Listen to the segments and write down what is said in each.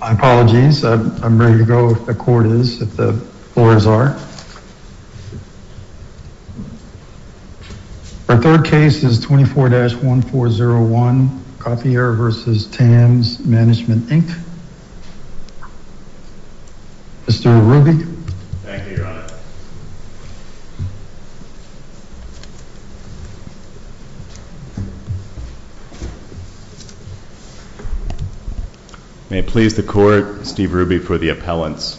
My apologies. I'm ready to go if the court is, if the floors are. Our third case is 24-1401 Gautier v. Tams Management, Inc. Mr. Ruby. Thank you, your honor. May it please the court, Steve Ruby for the appellants.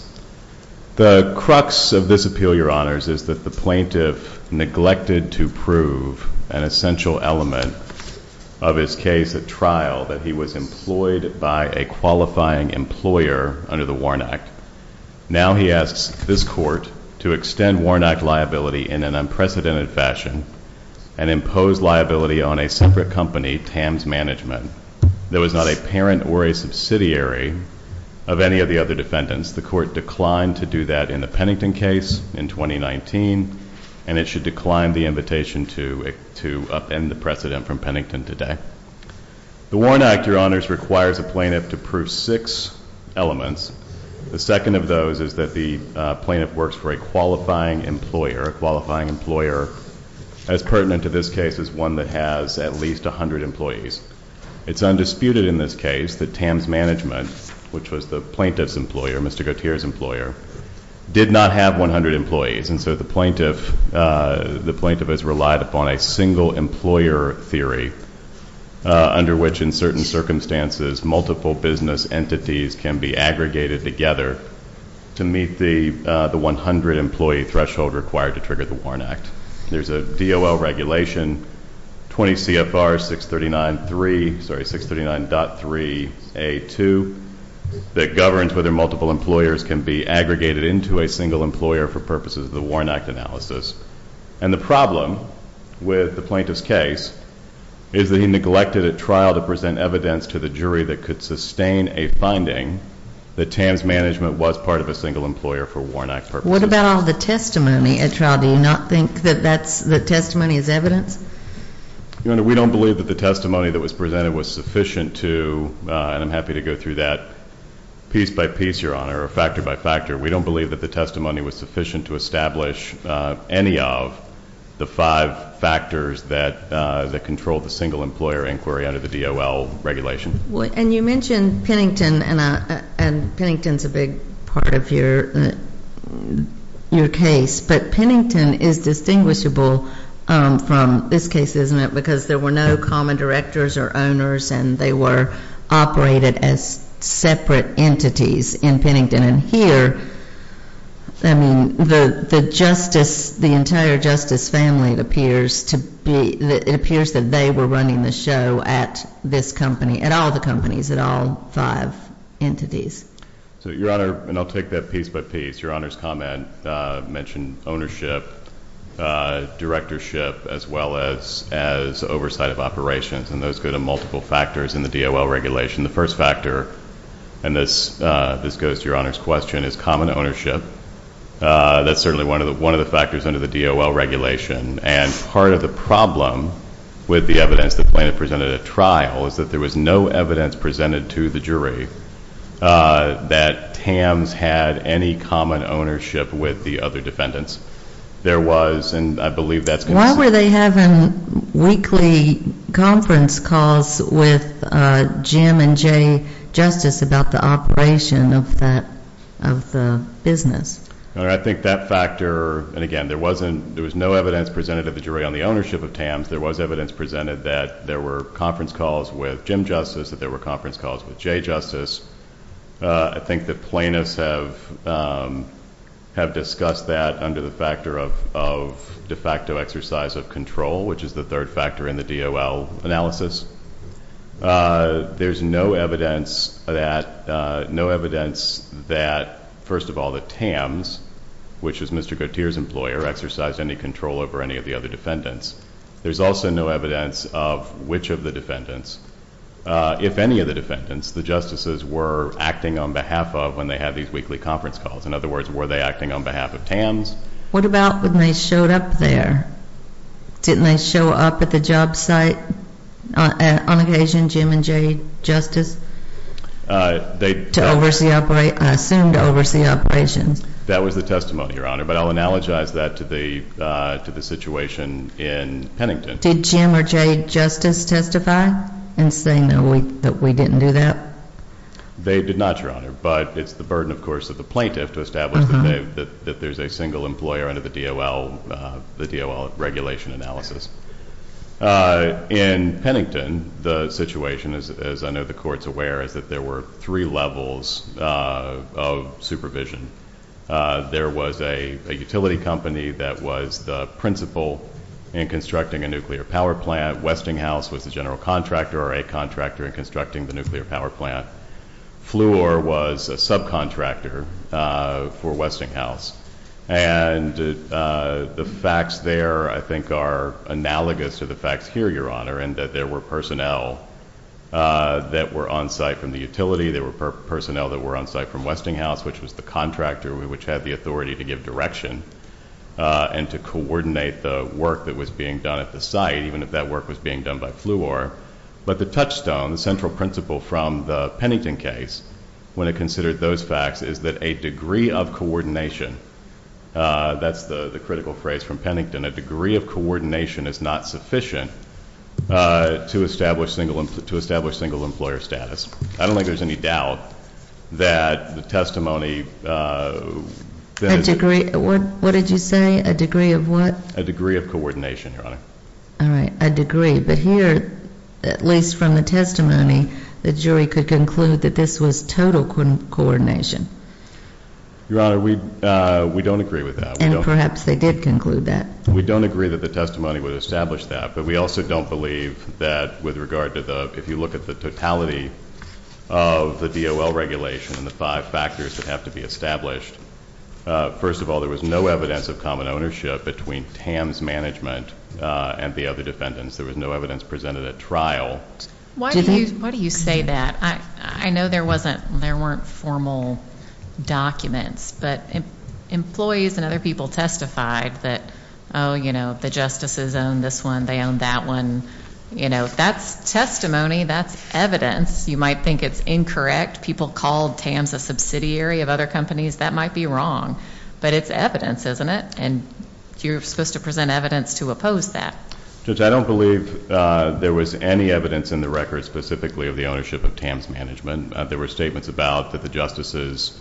The crux of this appeal, your honors, is that the plaintiff neglected to prove an essential element of his case at trial, that he was employed by a qualifying employer under the WARN Act. Now he asks this court to extend WARN Act liability in an unprecedented fashion and impose liability on a separate company, Tams Management, that was not a parent or a subsidiary of any of the other defendants. The court declined to do that in the Pennington case in 2019, and it should decline the invitation to upend the precedent from Pennington today. The WARN Act, your honors, requires a plaintiff to prove six elements. The second of those is that the plaintiff works for a qualifying employer, a qualifying employer as pertinent to this case as one that has at least 100 employees. It's undisputed in this case that Tams Management, which was the plaintiff's employer, Mr. Gautier's employer, did not have 100 employees. And so the plaintiff has relied upon a single employer theory under which, in certain circumstances, multiple business entities can be aggregated together to meet the 100 employee threshold required to trigger the WARN Act. There's a DOL regulation, 20 CFR 639.3A2, that governs whether multiple employers can be aggregated into a single employer for purposes of the WARN Act analysis. And the problem with the plaintiff's case is that he neglected at trial to present evidence to the jury that could sustain a finding that Tams Management was part of a single employer for WARN Act purposes. What about all the testimony at trial? Do you not think that the testimony is evidence? Your Honor, we don't believe that the testimony that was presented was sufficient to, and I'm happy to go through that piece by piece, Your Honor, or factor by factor. We don't believe that the testimony was sufficient to establish any of the five factors that control the single employer inquiry under the DOL regulation. And you mentioned Pennington, and Pennington's a big part of your case. But Pennington is distinguishable from this case, isn't it, because there were no common directors or owners, and they were operated as separate entities in Pennington. And here, I mean, the justice, the entire justice family appears to be, it appears that they were running the show at this company, at all the companies, at all five entities. So Your Honor, and I'll take that piece by piece, Your Honor's comment mentioned ownership, directorship, as well as oversight of operations. And those go to multiple factors in the DOL regulation. The first factor, and this goes to Your Honor's question, is common ownership. That's certainly one of the factors under the DOL regulation. And part of the problem with the evidence the plaintiff presented at trial is that there was no evidence presented to the jury that Tams had any common ownership with the other defendants. There was, and I believe that's going to be the same. Why were they having weekly conference calls with Jim and Jay Justice about the operation of the business? Your Honor, I think that factor, and again, there was no evidence presented to the jury on the ownership of Tams. There was evidence presented that there were conference calls with Jim Justice, that there were conference calls with Jay Justice. I think the plaintiffs have discussed that under the factor of de facto exercise of control, which is the third factor in the DOL analysis. There's no evidence that, first of all, that Tams, which is Mr. Gautier's employer, exercised any control over any of the other defendants. There's also no evidence of which of the defendants. If any of the defendants, the justices were acting on behalf of when they had these weekly conference calls. In other words, were they acting on behalf of Tams? What about when they showed up there? Didn't they show up at the job site on occasion, Jim and Jay Justice, to oversee, I assume to oversee operations? That was the testimony, Your Honor. But I'll analogize that to the situation in Pennington. Did Jim or Jay Justice testify in saying that we didn't do that? They did not, Your Honor. But it's the burden, of course, of the plaintiff to establish that there's a single employer under the DOL regulation analysis. In Pennington, the situation, as I know the court's aware, is that there were three levels of supervision. There was a utility company that was the principal in constructing a nuclear power plant. Westinghouse was the general contractor or a contractor in constructing the nuclear power plant. Fluor was a subcontractor for Westinghouse. And the facts there, I think, are analogous to the facts here, Your Honor, in that there were personnel that were on site from the utility. There were personnel that were on site from Westinghouse, which was the contractor which had the authority to give direction and to coordinate the work that was being done at the site, even if that work was being done by Fluor. But the touchstone, the central principle from the Pennington case, when it considered those facts, is that a degree of coordination, that's the critical phrase from Pennington, a degree of coordination is not sufficient to establish single employer status. I don't think there's any doubt that the testimony that is What did you say? A degree of what? A degree of coordination, Your Honor. All right, a degree. But here, at least from the testimony, the jury could conclude that this was total coordination. Your Honor, we don't agree with that. And perhaps they did conclude that. We don't agree that the testimony would establish that, but we also don't believe that with regard to the, if you look at the totality of the DOL regulation and the five factors that have to be established, first of all, there was no evidence of common ownership between TAMS management and the other defendants. There was no evidence presented at trial. Why do you say that? I know there weren't formal documents, but employees and other people testified that, oh, you know, the justices own this one, they own that one. You know, that's testimony, that's evidence. You might think it's incorrect. People called TAMS a subsidiary of other companies. That might be wrong. But it's evidence, isn't it? And you're supposed to present evidence to oppose that. Judge, I don't believe there was any evidence in the record specifically of the ownership of TAMS management. There were statements about that the justices,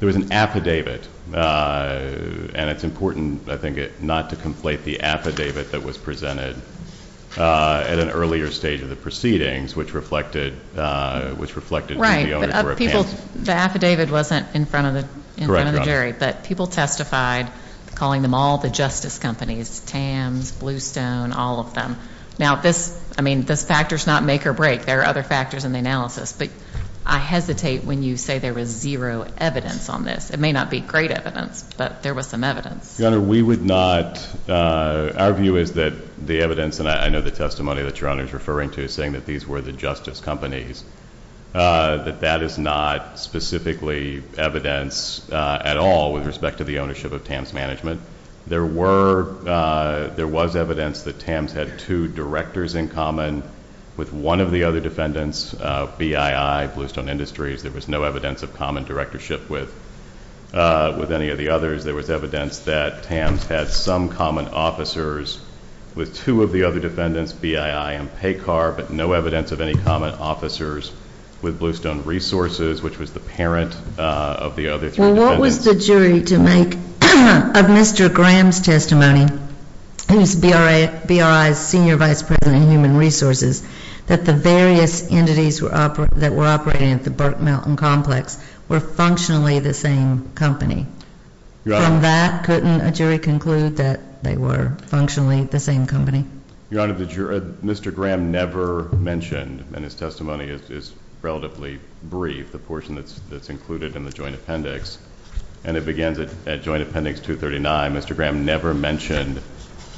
there was an affidavit, and it's important, I think, not to conflate the affidavit that was presented at an earlier stage of the proceedings, which reflected that the owners were a pair. The affidavit wasn't in front of the jury, but people testified calling them all the justice companies, TAMS, Bluestone, all of them. Now this, I mean, this factor's not make or break. There are other factors in the analysis, but I hesitate when you say there was zero evidence on this. It may not be great evidence, but there was some evidence. Your Honor, we would not, our view is that the evidence, and I know the testimony that Your Honor's referring to is saying that these were the justice companies, that that is not specifically evidence at all with respect to the ownership of TAMS management. There was evidence that TAMS had two directors in common with one of the other defendants, BII, Bluestone Industries. There was no evidence of common directorship with any of the others. There was evidence that TAMS had some common officers with two of the other defendants, BII and PACAR, but no evidence of any common officers with Bluestone Resources, which was the parent of the other three defendants. Well, what was the jury to make of Mr. Graham's testimony, who's BRI's Senior Vice President of Human Resources, that the various entities that were operating at the Burke Mountain Complex were functionally the same company? From that, couldn't a jury conclude that they were functionally the same company? Your Honor, the jury, Mr. Graham never mentioned, and his testimony is relatively brief, the portion that's included in the joint appendix, and it begins at Joint Appendix 239. Mr. Graham never mentioned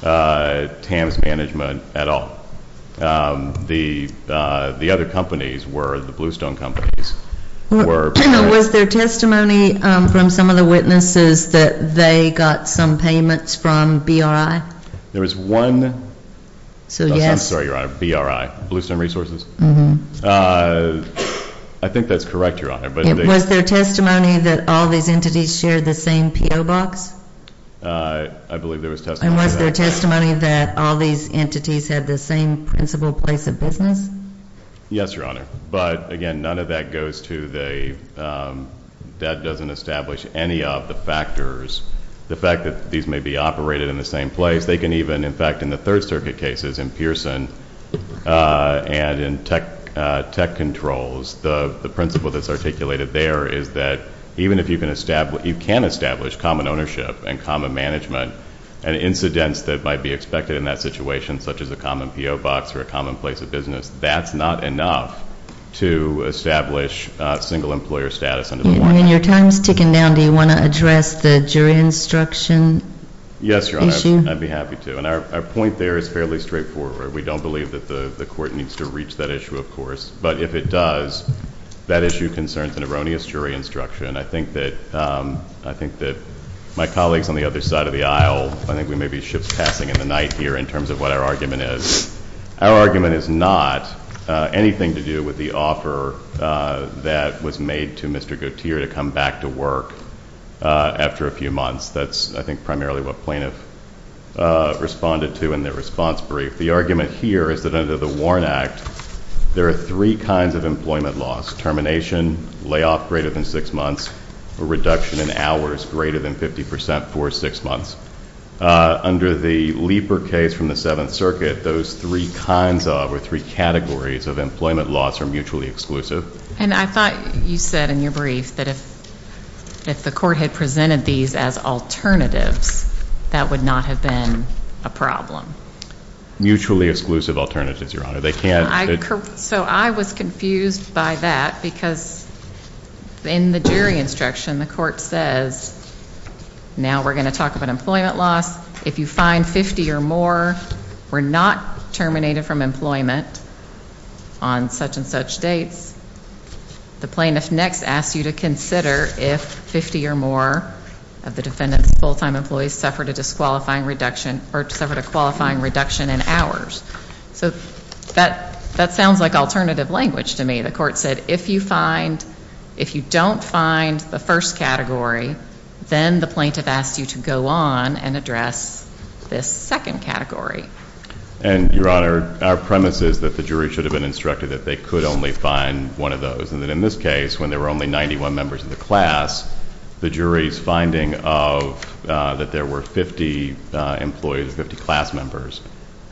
TAMS management at all. The other companies were, the Bluestone companies were- Was there testimony from some of the witnesses that they got some payments from BRI? There was one- So, yes- I'm sorry, Your Honor, BRI, Bluestone Resources? Mm-hmm. I think that's correct, Your Honor, but- Was there testimony that all these entities shared the same P.O. box? I believe there was testimony- And was there testimony that all these entities had the same principal place of business? Yes, Your Honor, but again, none of that goes to the, that doesn't establish any of the factors. The fact that these may be operated in the same place, they can even, in fact, in the Third Circuit cases, in Pearson, and in tech controls, the principle that's articulated there is that even if you can establish common ownership and common management, and incidents that might be expected in that situation, such as a common P.O. box or a common place of business, that's not enough to establish single-employer status under the warning. When your time's ticking down, do you want to address the jury instruction issue? Yes, Your Honor, I'd be happy to, and our point there is fairly straightforward. We don't believe that the court needs to reach that issue, of course, but if it does, that issue concerns an erroneous jury instruction. I think that my colleagues on the other side of the aisle, I think we may be ship's passing in the night here in terms of what our argument is. Our argument is not anything to do with the offer that was made to Mr. Gautier to come back to work after a few months. That's, I think, primarily what plaintiff responded to in their response brief. The argument here is that under the WARN Act, there are three kinds of employment laws, termination, layoff greater than six months, or reduction in hours greater than 50% for six months. Under the Leeper case from the Seventh Circuit, those three kinds of, or three categories, of employment laws are mutually exclusive. And I thought you said in your brief that if the court had presented these as alternatives, that would not have been a problem. Mutually exclusive alternatives, Your Honor. They can't. So I was confused by that, because in the jury instruction, the court says, now we're gonna talk about employment laws. If you find 50 or more were not terminated from employment, on such and such dates, the plaintiff next asks you to consider if 50 or more of the defendant's full-time employees suffered a disqualifying reduction, or suffered a qualifying reduction in hours. So that sounds like alternative language to me. The court said, if you find, if you don't find the first category, then the plaintiff asks you to go on and address this second category. And, Your Honor, our premise is that the jury should have been instructed that they could only find one of those. And that in this case, when there were only 91 members of the class, the jury's finding of, that there were 50 employees, 50 class members,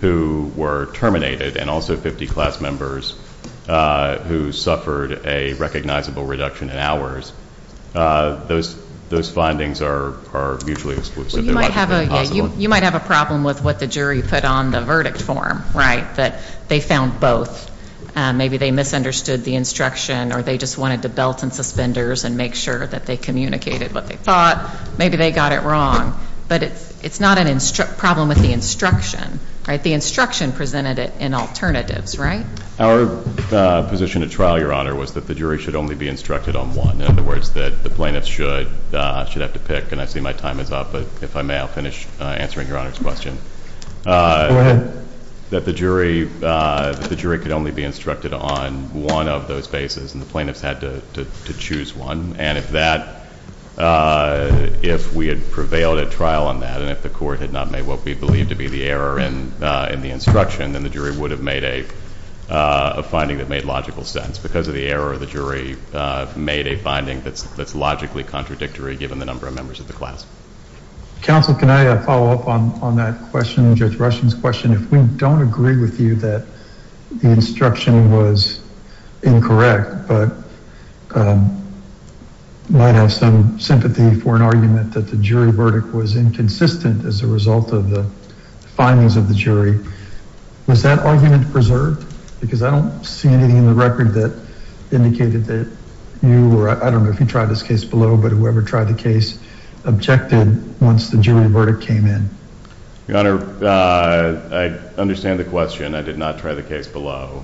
who were terminated, and also 50 class members who suffered a recognizable reduction in hours, those findings are mutually exclusive. They're not mutually possible. You might have a problem with what the jury put on the verdict form, right? That they found both. Maybe they misunderstood the instruction, or they just wanted to belt and suspenders and make sure that they communicated what they thought. Maybe they got it wrong. But it's not a problem with the instruction, right? The instruction presented it in alternatives, right? Our position at trial, Your Honor, was that the jury should only be instructed on one. In other words, that the plaintiff should have to pick. And I see my time is up, but if I may, I'll finish answering Your Honor's question. Go ahead. That the jury could only be instructed on one of those bases, and the plaintiffs had to choose one. And if we had prevailed at trial on that, and if the court had not made what we believe to be the error in the instruction, then the jury would have made a finding that made logical sense. Because of the error, the jury made a finding that's logically contradictory, given the number of members of the class. Counsel, can I follow up on that question, Judge Rushing's question? If we don't agree with you that the instruction was incorrect, but might have some sympathy for an argument that the jury verdict was inconsistent as a result of the findings of the jury, was that argument preserved? Because I don't see anything in the record that indicated that you were, I don't know if you tried this case below, but whoever tried the case objected once the jury verdict came in. Your Honor, I understand the question. I did not try the case below.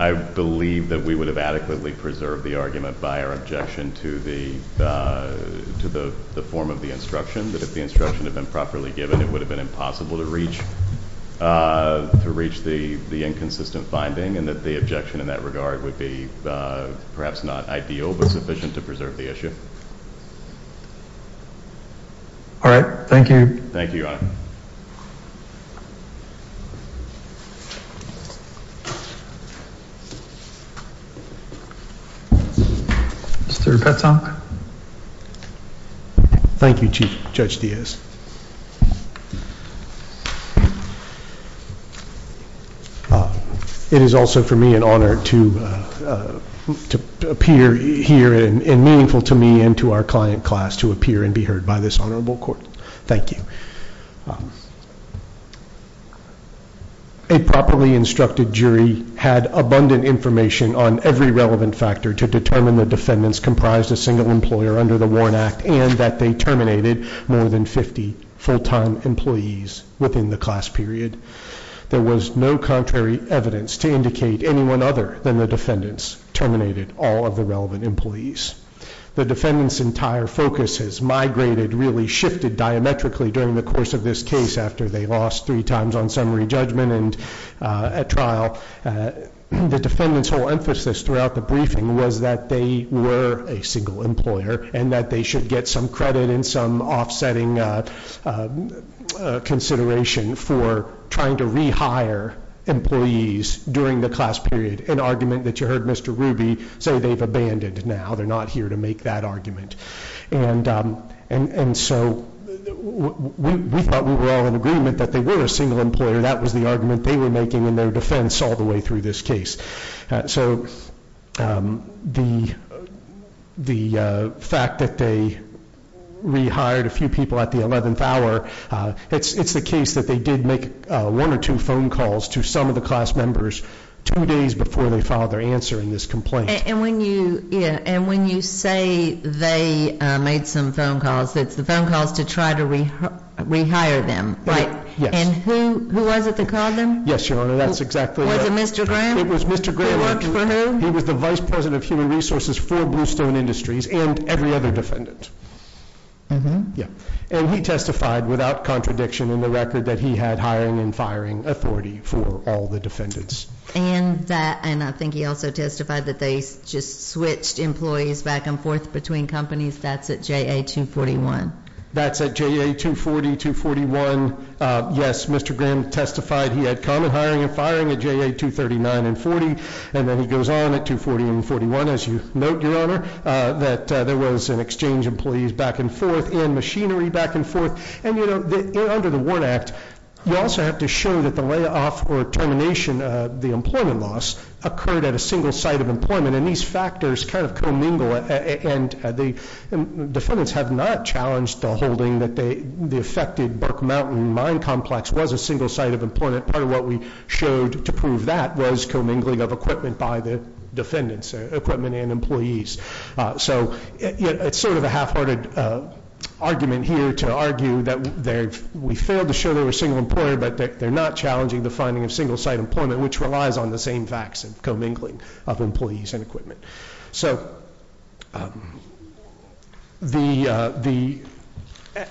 I believe that we would have adequately preserved the argument by our objection to the form of the instruction, that if the instruction had been properly given, it would have been impossible to reach the inconsistent finding, and that the objection in that regard would be perhaps not ideal, but sufficient to preserve the issue. All right, thank you. Thank you, Your Honor. Mr. Petzon. Thank you, Chief Judge Diaz. It is also for me an honor to appear here and meaningful to me and to our client class to appear and be heard by this honorable court. Thank you. A properly instructed jury had abundant information on every relevant factor to determine the defendants comprised a single employer under the Warren Act, and that they terminated more than 50 full-time employees within the class period. There was no contrary evidence to indicate anyone other than the defendants terminated all of the relevant employees. The defendants' entire focus has migrated, really shifted diametrically during the course of this case after they lost three times on summary judgment and at trial. The defendants' whole emphasis throughout the briefing was that they were a single employer and that they should get some credit and some offsetting consideration for trying to rehire employees during the class period, an argument that you heard Mr. Ruby say they've abandoned now, they're not here to make that argument. And so we thought we were all in agreement that they were a single employer, that was the argument they were making in their defense all the way through this case. So the fact that they rehired a few people at the 11th hour, it's the case that they did make one or two phone calls to some of the class members two days before they filed their answer in this complaint. And when you say they made some phone calls, it's the phone calls to try to rehire them, right? Yes. And who was it that called them? Yes, Your Honor, that's exactly right. Was it Mr. Graham? It was Mr. Graham. Who worked for whom? He was the Vice President of Human Resources for Bluestone Industries and every other defendant. Yeah, and he testified without contradiction in the record that he had hiring and firing authority for all the defendants. And I think he also testified that they just switched employees back and forth between companies. That's at JA-241. That's at JA-240, 241. Yes, Mr. Graham testified he had common hiring and firing at JA-239 and 40, and then he goes on at 240 and 41, as you note, Your Honor, that there was an exchange employees back and forth and machinery back and forth. And you know, under the WARN Act, you also have to show that the layoff or termination of the employment loss occurred at a single site of employment. And these factors kind of commingle, and the defendants have not challenged the holding that the affected Burke Mountain Mine Complex was a single site of employment. Part of what we showed to prove that was commingling of equipment by the defendants, equipment and employees. So it's sort of a half-hearted argument here to argue that we failed to show they were single employer, but that they're not challenging the finding of single site employment, which relies on the same facts and commingling of employees and equipment.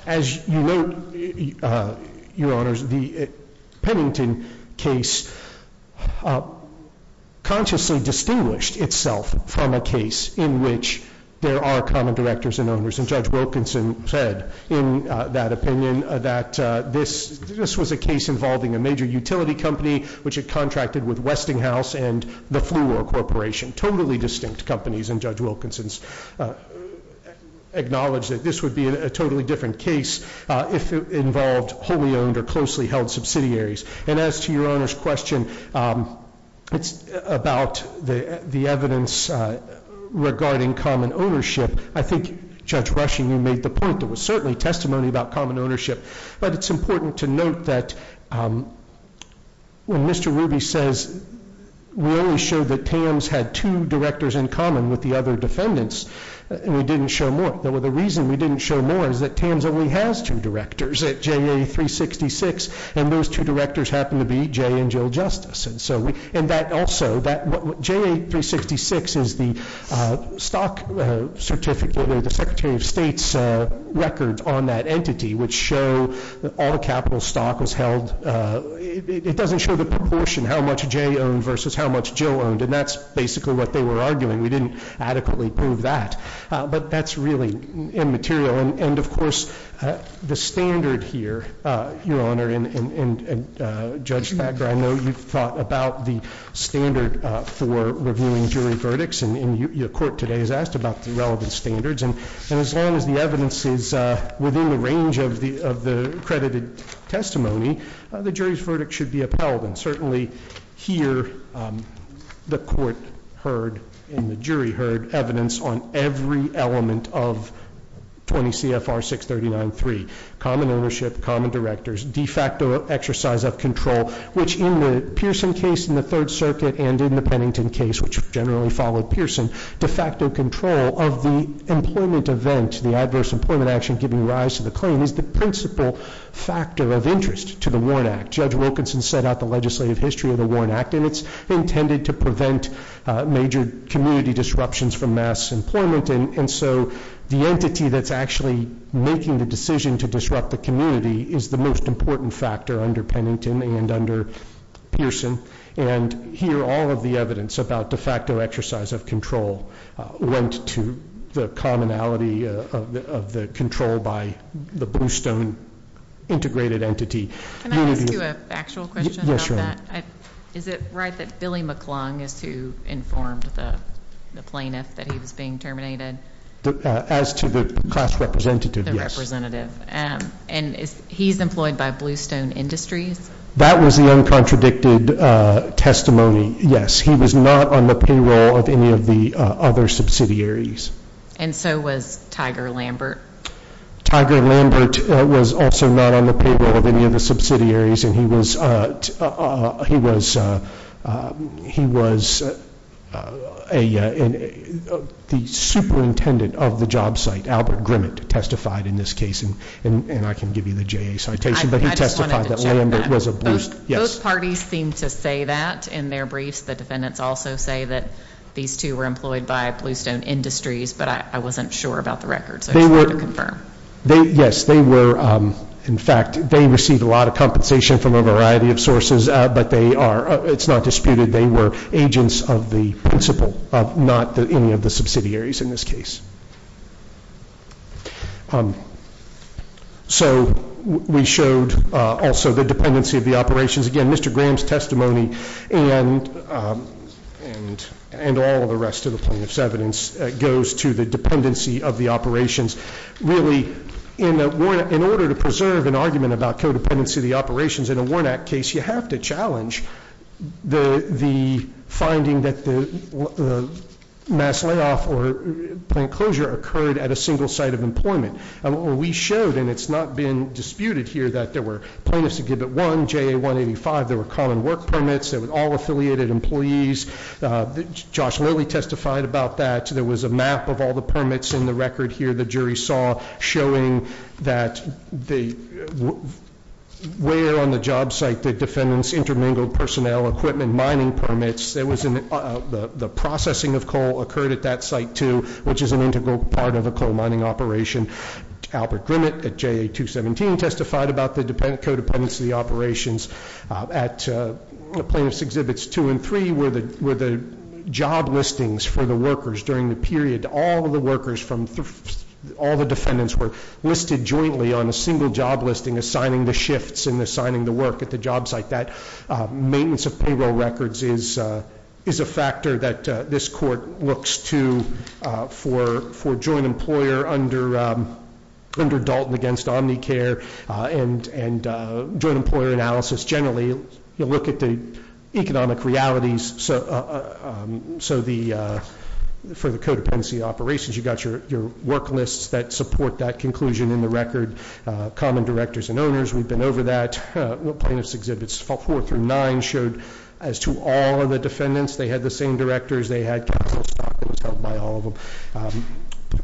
as you note, Your Honors, the Pennington case consciously distinguished itself from a case in which there are common directors and owners. And Judge Wilkinson said in that opinion that this was a case involving a major utility company, which had contracted with Westinghouse and the Fluor Corporation, totally distinct companies. And Judge Wilkinson's acknowledged that this would be a totally different case if it involved wholly owned or closely held subsidiaries. And as to Your Honor's question, it's about the evidence regarding common ownership. I think Judge Rushing, you made the point that was certainly testimony about common ownership, but it's important to note that when Mr. Ruby says, we only showed that TAMS had two directors in common with the other defendants, and we didn't show more. Well, the reason we didn't show more is that TAMS only has two directors at JA366, and those two directors happen to be Jay and Jill Justice. And so, and that also, JA366 is the stock certificate or the Secretary of State's records on that entity, which show that all capital stock was held. It doesn't show the proportion, how much Jay owned versus how much Jill owned. And that's basically what they were arguing. We didn't adequately prove that, but that's really immaterial. And of course, the standard here, Your Honor, and Judge Thacker, I know you've thought about the standard for reviewing jury verdicts, and your court today has asked about the relevant standards. And as long as the evidence is within the range of the accredited testimony, the jury's verdict should be upheld. And certainly here, the court heard, and the jury heard evidence on every element of 20 CFR 639-3, common ownership, common directors, de facto exercise of control, which in the Pearson case in the Third Circuit and in the Pennington case, which generally followed Pearson, de facto control of the employment event, the adverse employment action giving rise to the claim is the principal factor of interest to the Warren Act. Judge Wilkinson set out the legislative history of the Warren Act, and it's intended to prevent major community disruptions from mass employment. And so the entity that's actually making the decision to disrupt the community is the most important factor under Pennington and under Pearson. And here, all of the evidence about de facto exercise of control went to the commonality of the control by the Bluestone integrated entity. Can I ask you a factual question about that? Is it right that Billy McClung is who informed the plaintiff that he was being terminated? As to the class representative, yes. The representative. And he's employed by Bluestone Industries? That was the uncontradicted testimony, yes. He was not on the payroll of any of the other subsidiaries. And so was Tiger Lambert. Tiger Lambert was also not on the payroll of any of the subsidiaries. And he was, he was, he was a, the superintendent of the job site, Albert Grimmett, testified in this case, and I can give you the JA citation, but he testified that Lambert was a Bluestone, yes. Both parties seem to say that in their briefs, the defendants also say that these two were employed by Bluestone Industries, but I wasn't sure about the records, so I just wanted to confirm. Yes, they were, in fact, they received a lot of compensation from a variety of sources, but they are, it's not disputed, they were agents of the principal, not any of the subsidiaries in this case. So we showed also the dependency of the operations. Again, Mr. Graham's testimony and all the rest of the plaintiff's evidence goes to the dependency of the operations. Really, in order to preserve an argument about codependency of the operations in a Warnack case, you have to challenge the finding that the mass layoff or plant closure occurred at a single site of employment. And what we showed, and it's not been disputed here, that there were plaintiffs to give it one, JA-185, there were common work permits, there were all affiliated employees. Josh Lilly testified about that. There was a map of all the permits in the record here the jury saw showing that where on the job site the defendants intermingled personnel, equipment, mining permits. There was, the processing of coal occurred at that site too, which is an integral part of a coal mining operation. Albert Grimmett at JA-217 testified about the codependency of the operations. At plaintiff's exhibits two and three were the job listings for the workers during the period. All of the workers from, all the defendants were listed jointly on a single job listing, assigning the shifts and assigning the work at the job site. That maintenance of payroll records is a factor that this court looks to for joint employer under Dalton against Omnicare and joint employer analysis. Generally, you look at the economic realities. So the, for the codependency operations, you got your work lists that support that conclusion in the record. Common directors and owners, we've been over that. Plaintiff's exhibits four through nine showed as to all of the defendants, they had the same directors, they had counsel stockings held by all of them.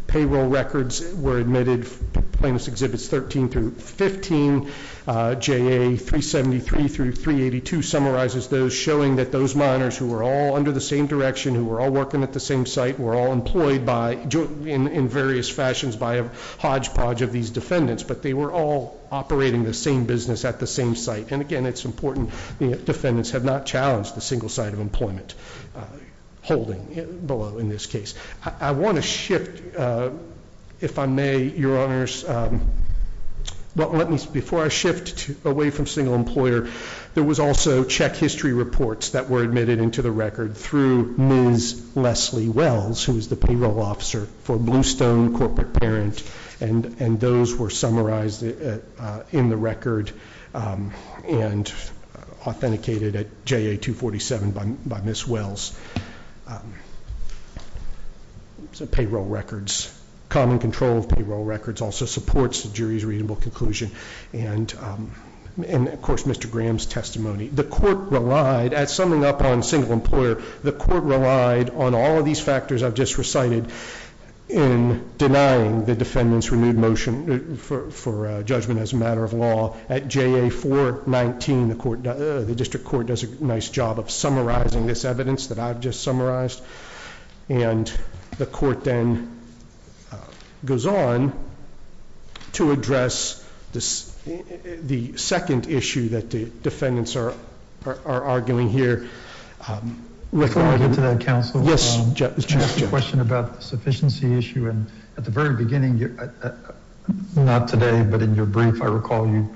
Payroll records were admitted, plaintiff's exhibits 13 through 15, JA-373 through 382 summarizes those, showing that those miners who were all under the same direction, who were all working at the same site, were all employed by, in various fashions, by a hodgepodge of these defendants, but they were all operating the same business at the same site. And again, it's important the defendants have not challenged the single side of employment, holding below in this case. I want to shift, if I may, your honors, but let me, before I shift away from single employer, there was also check history reports that were admitted into the record through Ms. Leslie Wells, who was the payroll officer for Bluestone Corporate Parent, and those were summarized in the record and authenticated at JA-247 by Ms. Wells. So payroll records, common control of payroll records also supports the jury's readable conclusion. And of course, Mr. Graham's testimony. The court relied, at summing up on single employer, the court relied on all of these factors I've just recited in denying the defendant's renewed motion for judgment as a matter of law. At JA-419, the district court does a nice job of summarizing this evidence that I've just summarized. And the court then goes on to address the second issue that the defendants are arguing here. Let me get to that, counsel. Yes, Judge. I have a question about the sufficiency issue. And at the very beginning, not today, but in your brief, I recall you,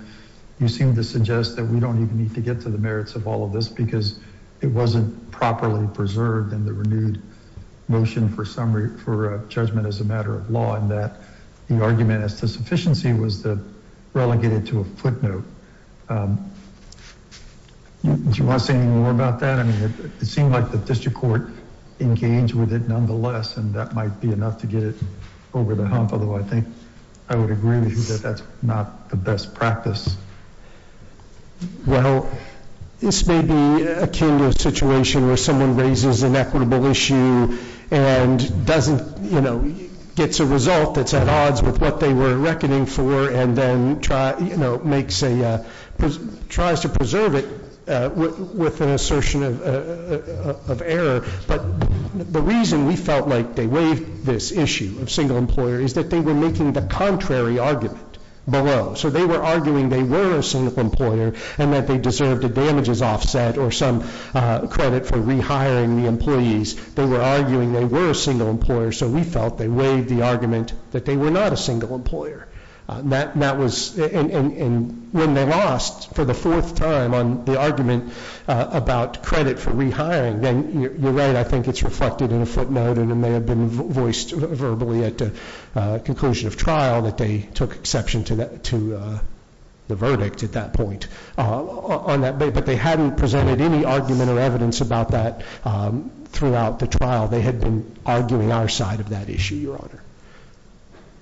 you seemed to suggest that we don't even need to get to the merits of all of this because it wasn't properly preserved in the renewed motion for judgment as a matter of law and that the argument as to sufficiency was relegated to a footnote. Do you want to say any more about that? I mean, it seemed like the district court engaged with it nonetheless, and that might be enough to get it over the hump. Although I think I would agree with you that that's not the best practice. Well, this may be akin to a situation where someone raises an equitable issue and gets a result that's at odds with what they were reckoning for and then tries to preserve it with an assertion of error. But the reason we felt like they waived this issue of single employer is that they were making the contrary argument below. So they were arguing they were a single employer and that they deserved a damages offset or some credit for rehiring the employees. They were arguing they were a single employer, so we felt they waived the argument that they were not a single employer. And when they lost for the fourth time on the argument about credit for rehiring, then you're right, I think it's reflected in a footnote and it may have been voiced verbally at the conclusion of trial that they took exception to the verdict at that point. But they hadn't presented any argument or evidence about that throughout the trial. They had been arguing our side of that issue, Your Honor.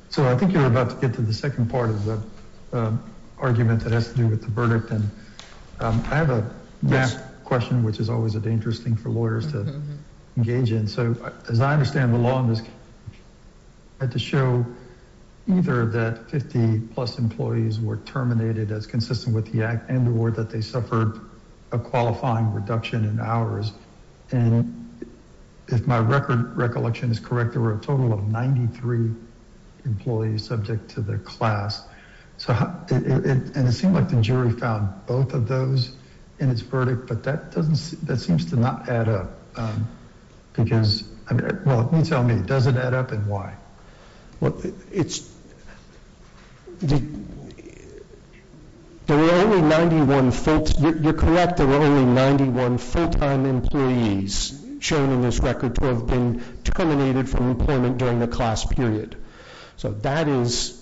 So I think you're about to get to the second part of the argument that has to do with the verdict. And I have a gap question, which is always a dangerous thing for lawyers to engage in. So as I understand the law in this case, had to show either that 50 plus employees were terminated as consistent with the act and or that they suffered a qualifying reduction in hours. And if my record recollection is correct, there were a total of 93 employees subject to the class. So, and it seemed like the jury found both of those in its verdict, but that doesn't, that seems to not add up because, well, you tell me, does it add up and why? Well, it's, there were only 91, you're correct, there were only 91 full-time employees shown in this record to have been terminated from employment during the class period. So that is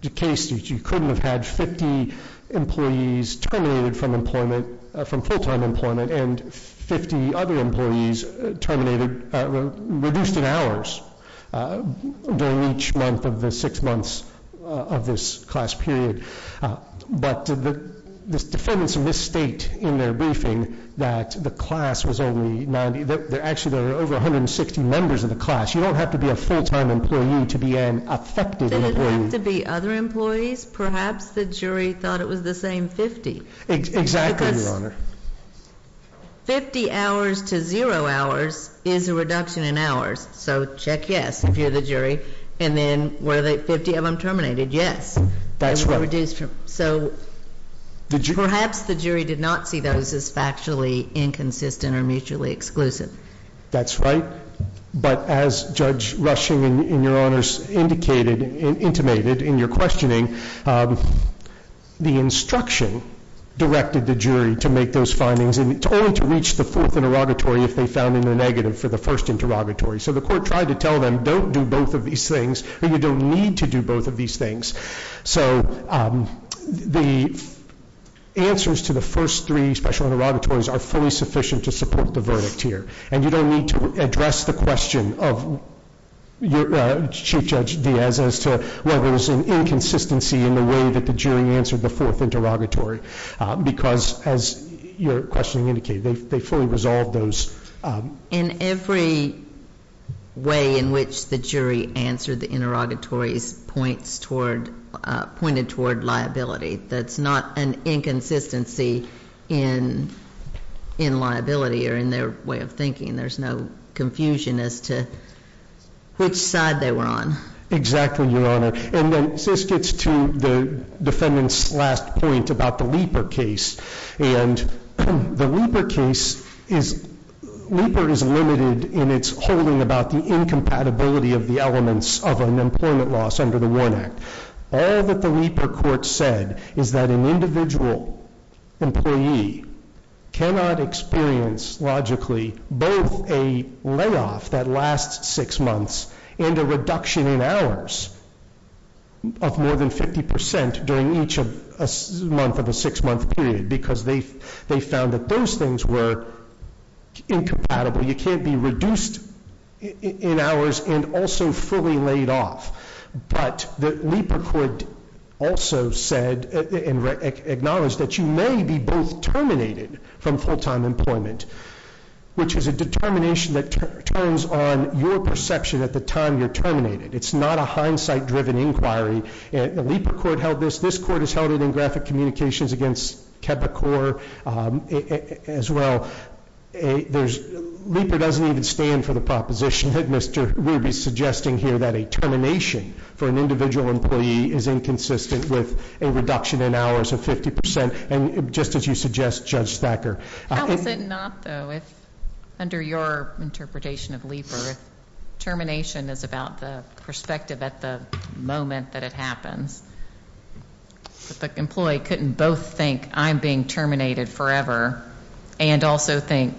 the case that you couldn't have had 50 employees terminated from employment, from full-time employment and 50 other employees terminated, reduced in hours. During each month of the six months of this class period. But the defendants of this state in their briefing that the class was only 90, they're actually, there were over 160 members of the class. You don't have to be a full-time employee to be an affected employee. Did it have to be other employees? Perhaps the jury thought it was the same 50. Exactly, Your Honor. 50 hours to zero hours is a reduction in hours. So check yes, if you're the jury. And then were the 50 of them terminated? Yes. That's right. So perhaps the jury did not see those as factually inconsistent or mutually exclusive. That's right. But as Judge Rushing and Your Honors indicated, intimated in your questioning, the instruction directed the jury to make those findings and it's only to reach the fourth interrogatory if they found in the negative for the first interrogatory. So the court tried to tell them, don't do both of these things or you don't need to do both of these things. So the answers to the first three special interrogatories are fully sufficient to support the verdict here. And you don't need to address the question of Chief Judge Diaz as to whether it was an inconsistency in the way that the jury answered the fourth interrogatory. Because as your questioning indicated, they fully resolved those. In every way in which the jury answered the interrogatories pointed toward liability. That's not an inconsistency in liability or in their way of thinking. There's no confusion as to which side they were on. Exactly, Your Honor. And then this gets to the defendant's last point about the Leiper case. And the Leiper case is, Leiper is limited in its holding about the incompatibility of the elements of an employment loss under the WARN Act. All that the Leiper court said is that an individual employee cannot experience logically both a layoff that lasts six months and a reduction in hours of more than 50% during each month of a six month period. Because they found that those things were incompatible. You can't be reduced in hours and also fully laid off. But the Leiper court also said and acknowledged that you may be both terminated from full-time employment. Which is a determination that turns on your perception at the time you're terminated. It's not a hindsight-driven inquiry. The Leiper court held this. This court has held it in graphic communications against Kebacor as well. Leiper doesn't even stand for the proposition that Mr. Ruby's suggesting here that a termination for an individual employee is inconsistent with a reduction in hours of 50%. And just as you suggest, Judge Thacker. How is it not though, if under your interpretation of Leiper, termination is about the perspective at the moment that it happens. But the employee couldn't both think I'm being terminated forever and also think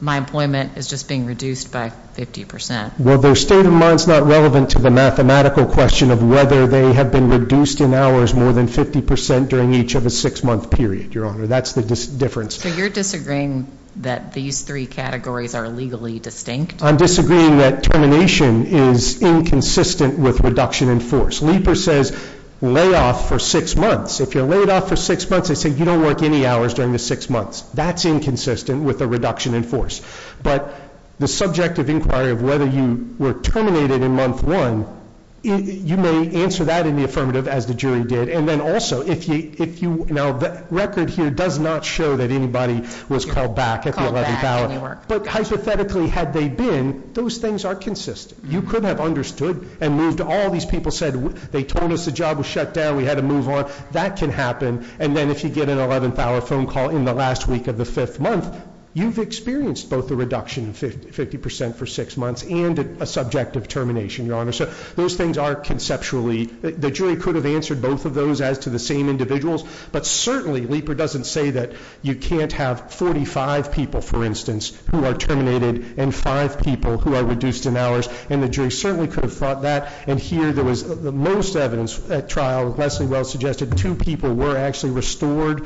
my employment is just being reduced by 50%. Well, their state of mind's not relevant to the mathematical question of whether they have been reduced in hours more than 50% during each of a six month period, Your Honor, that's the difference. So you're disagreeing that these three categories are legally distinct? I'm disagreeing that termination is inconsistent with reduction in force. Leiper says lay off for six months. If you're laid off for six months, they say you don't work any hours during the six months. That's inconsistent with a reduction in force. But the subjective inquiry of whether you were terminated in month one, you may answer that in the affirmative as the jury did. And then also, now the record here does not show that anybody was called back at the 11th hour. But hypothetically, had they been, those things are consistent. You could have understood and moved all these people said, they told us the job was shut down, we had to move on. That can happen. And then if you get an 11th hour phone call in the last week of the fifth month, you've experienced both the reduction 50% for six months and a subjective termination, Your Honor. So those things are conceptually, the jury could have answered both of those as to the same individuals. But certainly, Leiper doesn't say that you can't have 45 people, for instance, who are terminated and five people who are reduced in hours. And the jury certainly could have thought that. And here, there was the most evidence at trial, Leslie Wells suggested two people were actually restored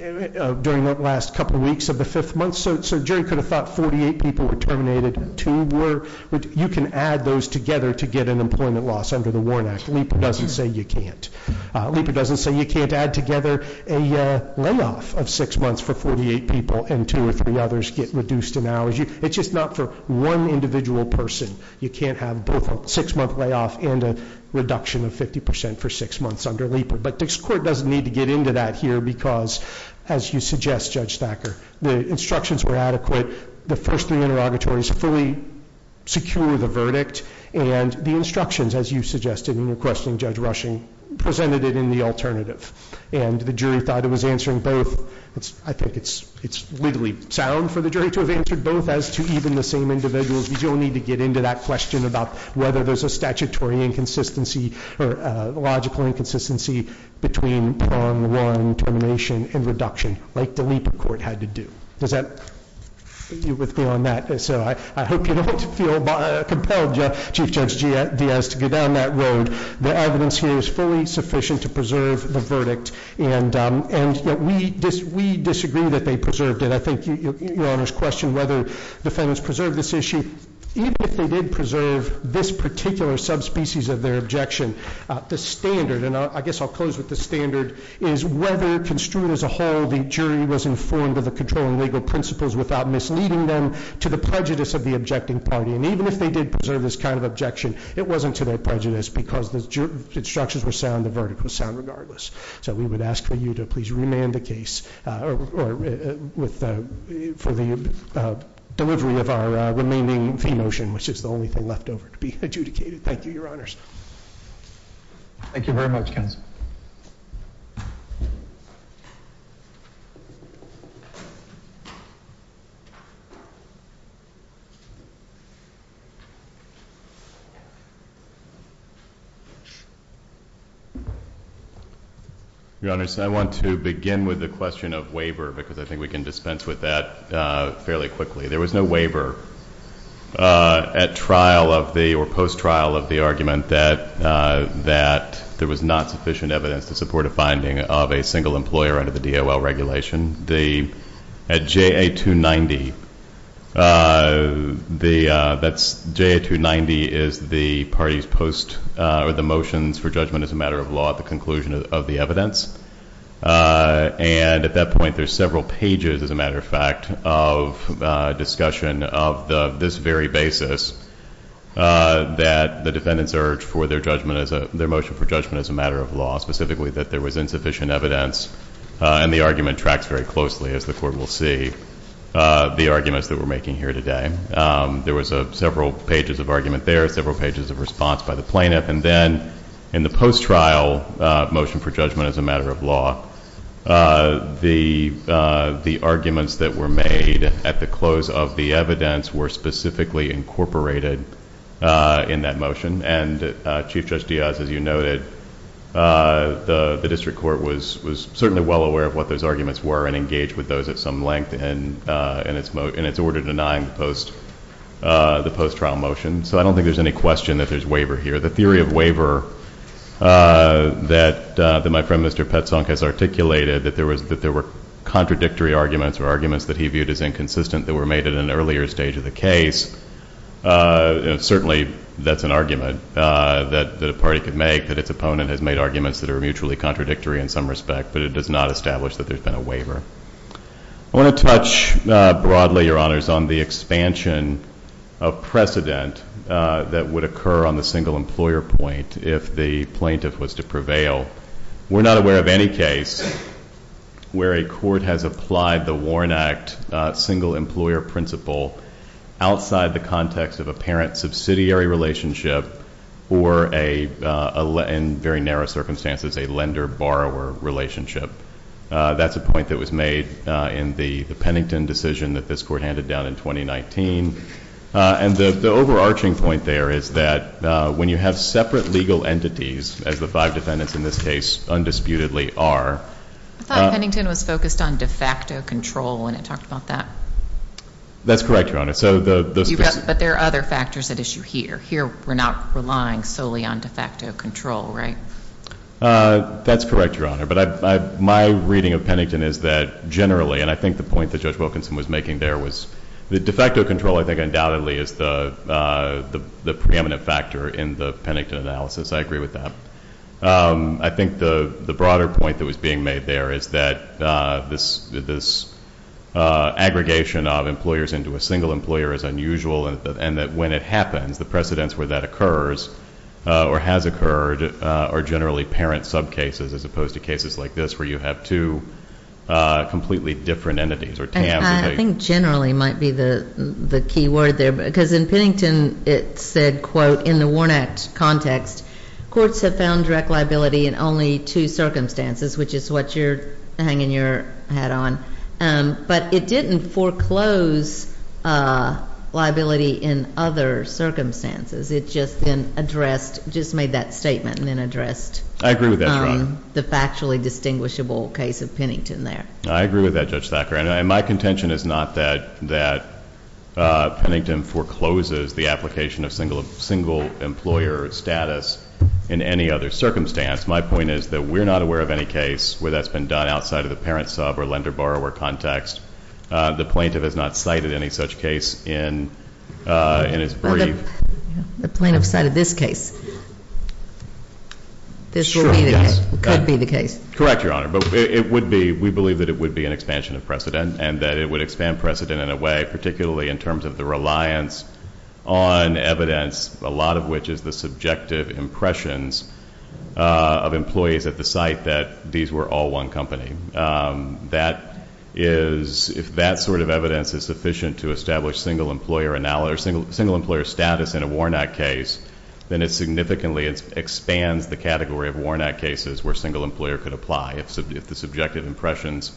during that last couple of weeks of the fifth month. So jury could have thought 48 people were terminated, two were, you can add those together to get an employment loss under the WARN Act. Leiper doesn't say you can't. Leiper doesn't say you can't add together a layoff of six months for 48 people and two or three others get reduced in hours. It's just not for one individual person. You can't have both a six month layoff and a reduction of 50% for six months under Leiper. But this court doesn't need to get into that here because, as you suggest, Judge Thacker, the instructions were adequate. The first three interrogatories fully secure the verdict. And the instructions, as you suggested in your question, Judge Rushing, presented it in the alternative. And the jury thought it was answering both. I think it's legally sound for the jury to have answered both as to even the same individuals. You don't need to get into that question about whether there's a statutory inconsistency or a logical inconsistency between prong one termination and reduction like the Leiper court had to do. Does that deal with me on that? So I hope you don't feel compelled, Chief Judge Diaz, to go down that road. The evidence here is fully sufficient to preserve the verdict. And we disagree that they preserved it. I think your Honor's question whether defendants preserved this issue, even if they did preserve this particular subspecies of their objection, the standard, and I guess I'll close with the standard, is whether construed as a whole, the jury was informed of the controlling legal principles without misleading them to the prejudice of the objecting party. And even if they did preserve this kind of objection, it wasn't to their prejudice because the instructions were sound, the verdict was sound regardless. So we would ask for you to please remand the case for the delivery of our remaining fee motion, which is the only thing left over to be adjudicated. Thank you, Your Honors. Thank you very much, counsel. Your Honor, so I want to begin with the question of waiver because I think we can dispense with that fairly quickly. There was no waiver at trial of the or post-trial of the argument that there was not sufficient evidence to support a finding of a single employer under the DOL regulation. At JA290, that's JA290 is the, I think, the party's post or the motions for judgment as a matter of law at the conclusion of the evidence. And at that point, there's several pages, as a matter of fact, of discussion of this very basis that the defendants urged for their motion for judgment as a matter of law, specifically that there was insufficient evidence. And the argument tracks very closely, as the court will see, the arguments that we're making here today. There was several pages of argument there, several pages of response by the plaintiff. And then in the post-trial motion for judgment as a matter of law, the arguments that were made at the close of the evidence were specifically incorporated in that motion. And Chief Judge Diaz, as you noted, the district court was certainly well aware of what those arguments were and engaged with those at some length in its order denying the post-trial motion. So I don't think there's any question that there's waiver here. The theory of waiver that my friend, Mr. Petzonk, has articulated, that there were contradictory arguments or arguments that he viewed as inconsistent that were made at an earlier stage of the case, certainly that's an argument that a party could make, that its opponent has made arguments that are mutually contradictory in some respect. But it does not establish that there's been a waiver. I want to touch broadly, Your Honors, on the expansion of precedent that would occur on the single employer point if the plaintiff was to prevail. We're not aware of any case where a court has applied the Warren Act single employer principle outside the context of a parent subsidiary relationship or, in very narrow circumstances, a lender-borrower relationship. That's a point that was made in the Pennington decision that this court handed down in 2019. And the overarching point there is that when you have separate legal entities, as the five defendants in this case undisputedly are. I thought Pennington was focused on de facto control when it talked about that. That's correct, Your Honor. But there are other factors at issue here. Here, we're not relying solely on de facto control, right? That's correct, Your Honor. My reading of Pennington is that generally, and I think the point that Judge Wilkinson was making there was, the de facto control, I think, undoubtedly is the preeminent factor in the Pennington analysis. I agree with that. I think the broader point that was being made there is that this aggregation of employers into a single employer is unusual. And that when it happens, the precedents where that occurs or has occurred are generally parent subcases as opposed to cases like this, where you have two completely different entities or tabs. And I think generally might be the key word there. Because in Pennington, it said, quote, in the Warnak context, courts have found direct liability in only two circumstances, which is what you're hanging your hat on. But it didn't foreclose liability in other circumstances. It just then addressed, just made that statement and then addressed the factually distinguishable case of Pennington there. I agree with that, Judge Thacker. And my contention is not that Pennington forecloses the application of single employer status in any other circumstance. My point is that we're not aware of any case where that's been done outside of the parent sub or lender borrower context. The plaintiff has not cited any such case in his brief. The plaintiff cited this case. This could be the case. Correct, Your Honor. But we believe that it would be an expansion of precedent and that it would expand precedent in a way, particularly in terms of the reliance on evidence, a lot of which is the subjective impressions of employees at the site, that these were all one company. That is, if that sort of evidence is sufficient to establish single employer status in a Warnak case, then it significantly expands the category of Warnak cases where single employer could apply if the subjective impressions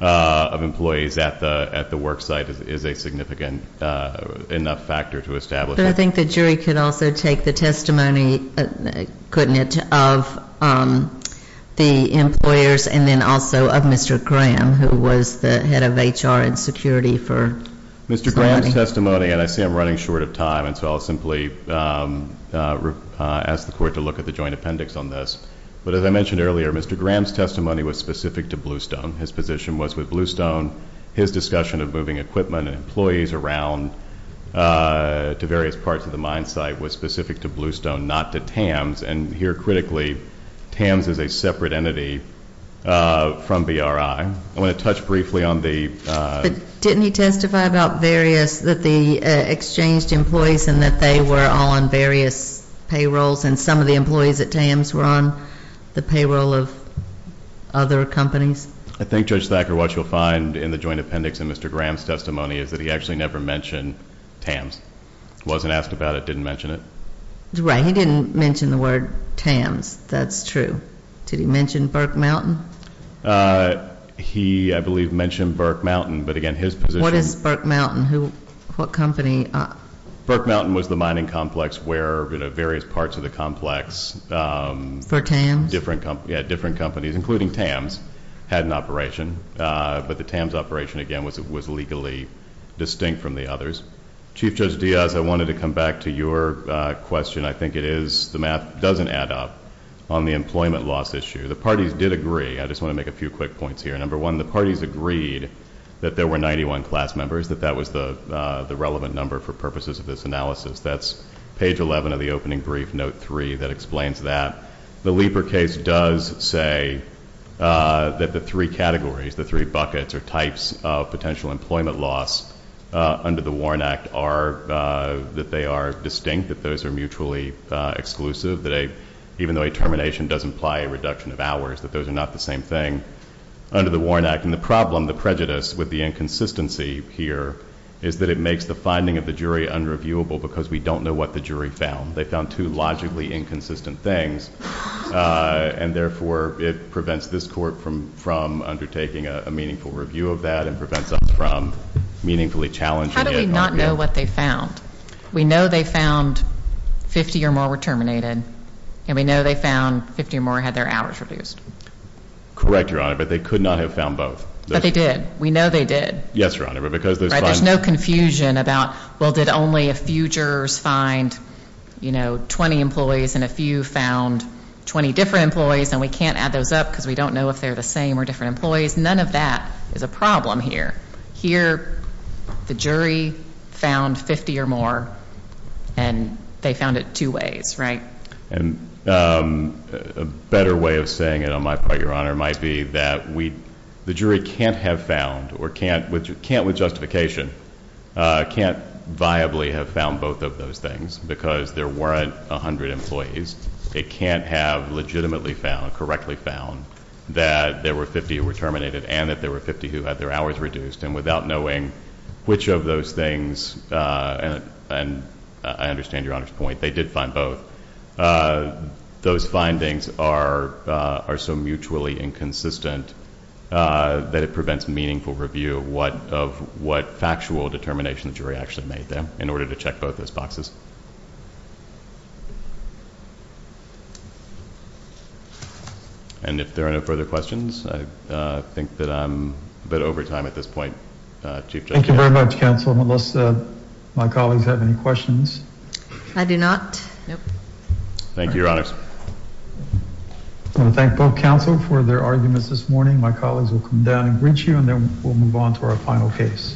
of employees at the work site is a significant enough factor to establish. But I think the jury could also take the testimony, couldn't it, of the employers and then also of Mr. Graham, who was the head of HR and security for somebody. Mr. Graham's testimony, and I see I'm running short of time, and so I'll simply ask the court to look at the joint appendix on this. But as I mentioned earlier, Mr. Graham's testimony was specific to Bluestone. His position was with Bluestone. His discussion of moving equipment and employees around to various parts of the mine site was specific to Bluestone, not to TAMS. And here, critically, TAMS is a separate entity from BRI. I want to touch briefly on the- Didn't he testify about various, that the exchanged employees and that they were on various payrolls and some of the employees at TAMS were on the payroll of other companies? I think, Judge Thacker, what you'll find in the joint appendix in Mr. Graham's testimony is that he actually never mentioned TAMS. Wasn't asked about it, didn't mention it. Right, he didn't mention the word TAMS. That's true. Did he mention Burke Mountain? He, I believe, mentioned Burke Mountain. But again, his position- What is Burke Mountain? What company? Burke Mountain was the mining complex where various parts of the complex- For TAMS? Different companies, including TAMS, had an operation. But the TAMS operation, again, was legally distinct from the others. Chief Judge Diaz, I wanted to come back to your question. I think it is, the math doesn't add up, on the employment loss issue. The parties did agree. I just want to make a few quick points here. Number one, the parties agreed that there were 91 class members, that that was the relevant number for purposes of this analysis. That's page 11 of the opening brief, note three, that explains that. The Lieber case does say that the three categories, the three buckets or types of potential employment loss under the Warren Act are that they are distinct, that those are mutually exclusive, that even though a termination does imply a reduction of hours, that those are not the same thing under the Warren Act. And the problem, the prejudice with the inconsistency here is that it makes the finding of the jury unreviewable because we don't know what the jury found. They found two logically inconsistent things. And therefore, it prevents this court from undertaking a meaningful review of that and prevents us from meaningfully challenging it. How do we not know what they found? We know they found 50 or more were terminated. And we know they found 50 or more had their hours reduced. Correct, Your Honor, but they could not have found both. But they did. We know they did. Yes, Your Honor, but because there's fine. There's no confusion about, well, did only a few jurors find 20 employees and a few found 20 different employees? And we can't add those up because we don't know if they're the same or different employees. None of that is a problem here. Here, the jury found 50 or more. And they found it two ways, right? And a better way of saying it on my part, Your Honor, might be that the jury can't have found or can't with justification, can't viably have found both of those things because there weren't 100 employees. They can't have legitimately found, correctly found, that there were 50 who were terminated and that there were 50 who had their hours reduced. And without knowing which of those things, and I understand Your Honor's point, they did find both, those findings are so mutually inconsistent that it prevents meaningful review of what factual determination the jury actually made them in order to check both those boxes. And if there are no further questions, I think that I'm a bit over time at this point, Chief Justice. Thank you very much, counsel, unless my colleagues have any questions. I do not, nope. Thank you, Your Honors. I want to thank both counsel for their arguments this morning. My colleagues will come down and greet you and then we'll move on to our final case. Thank you.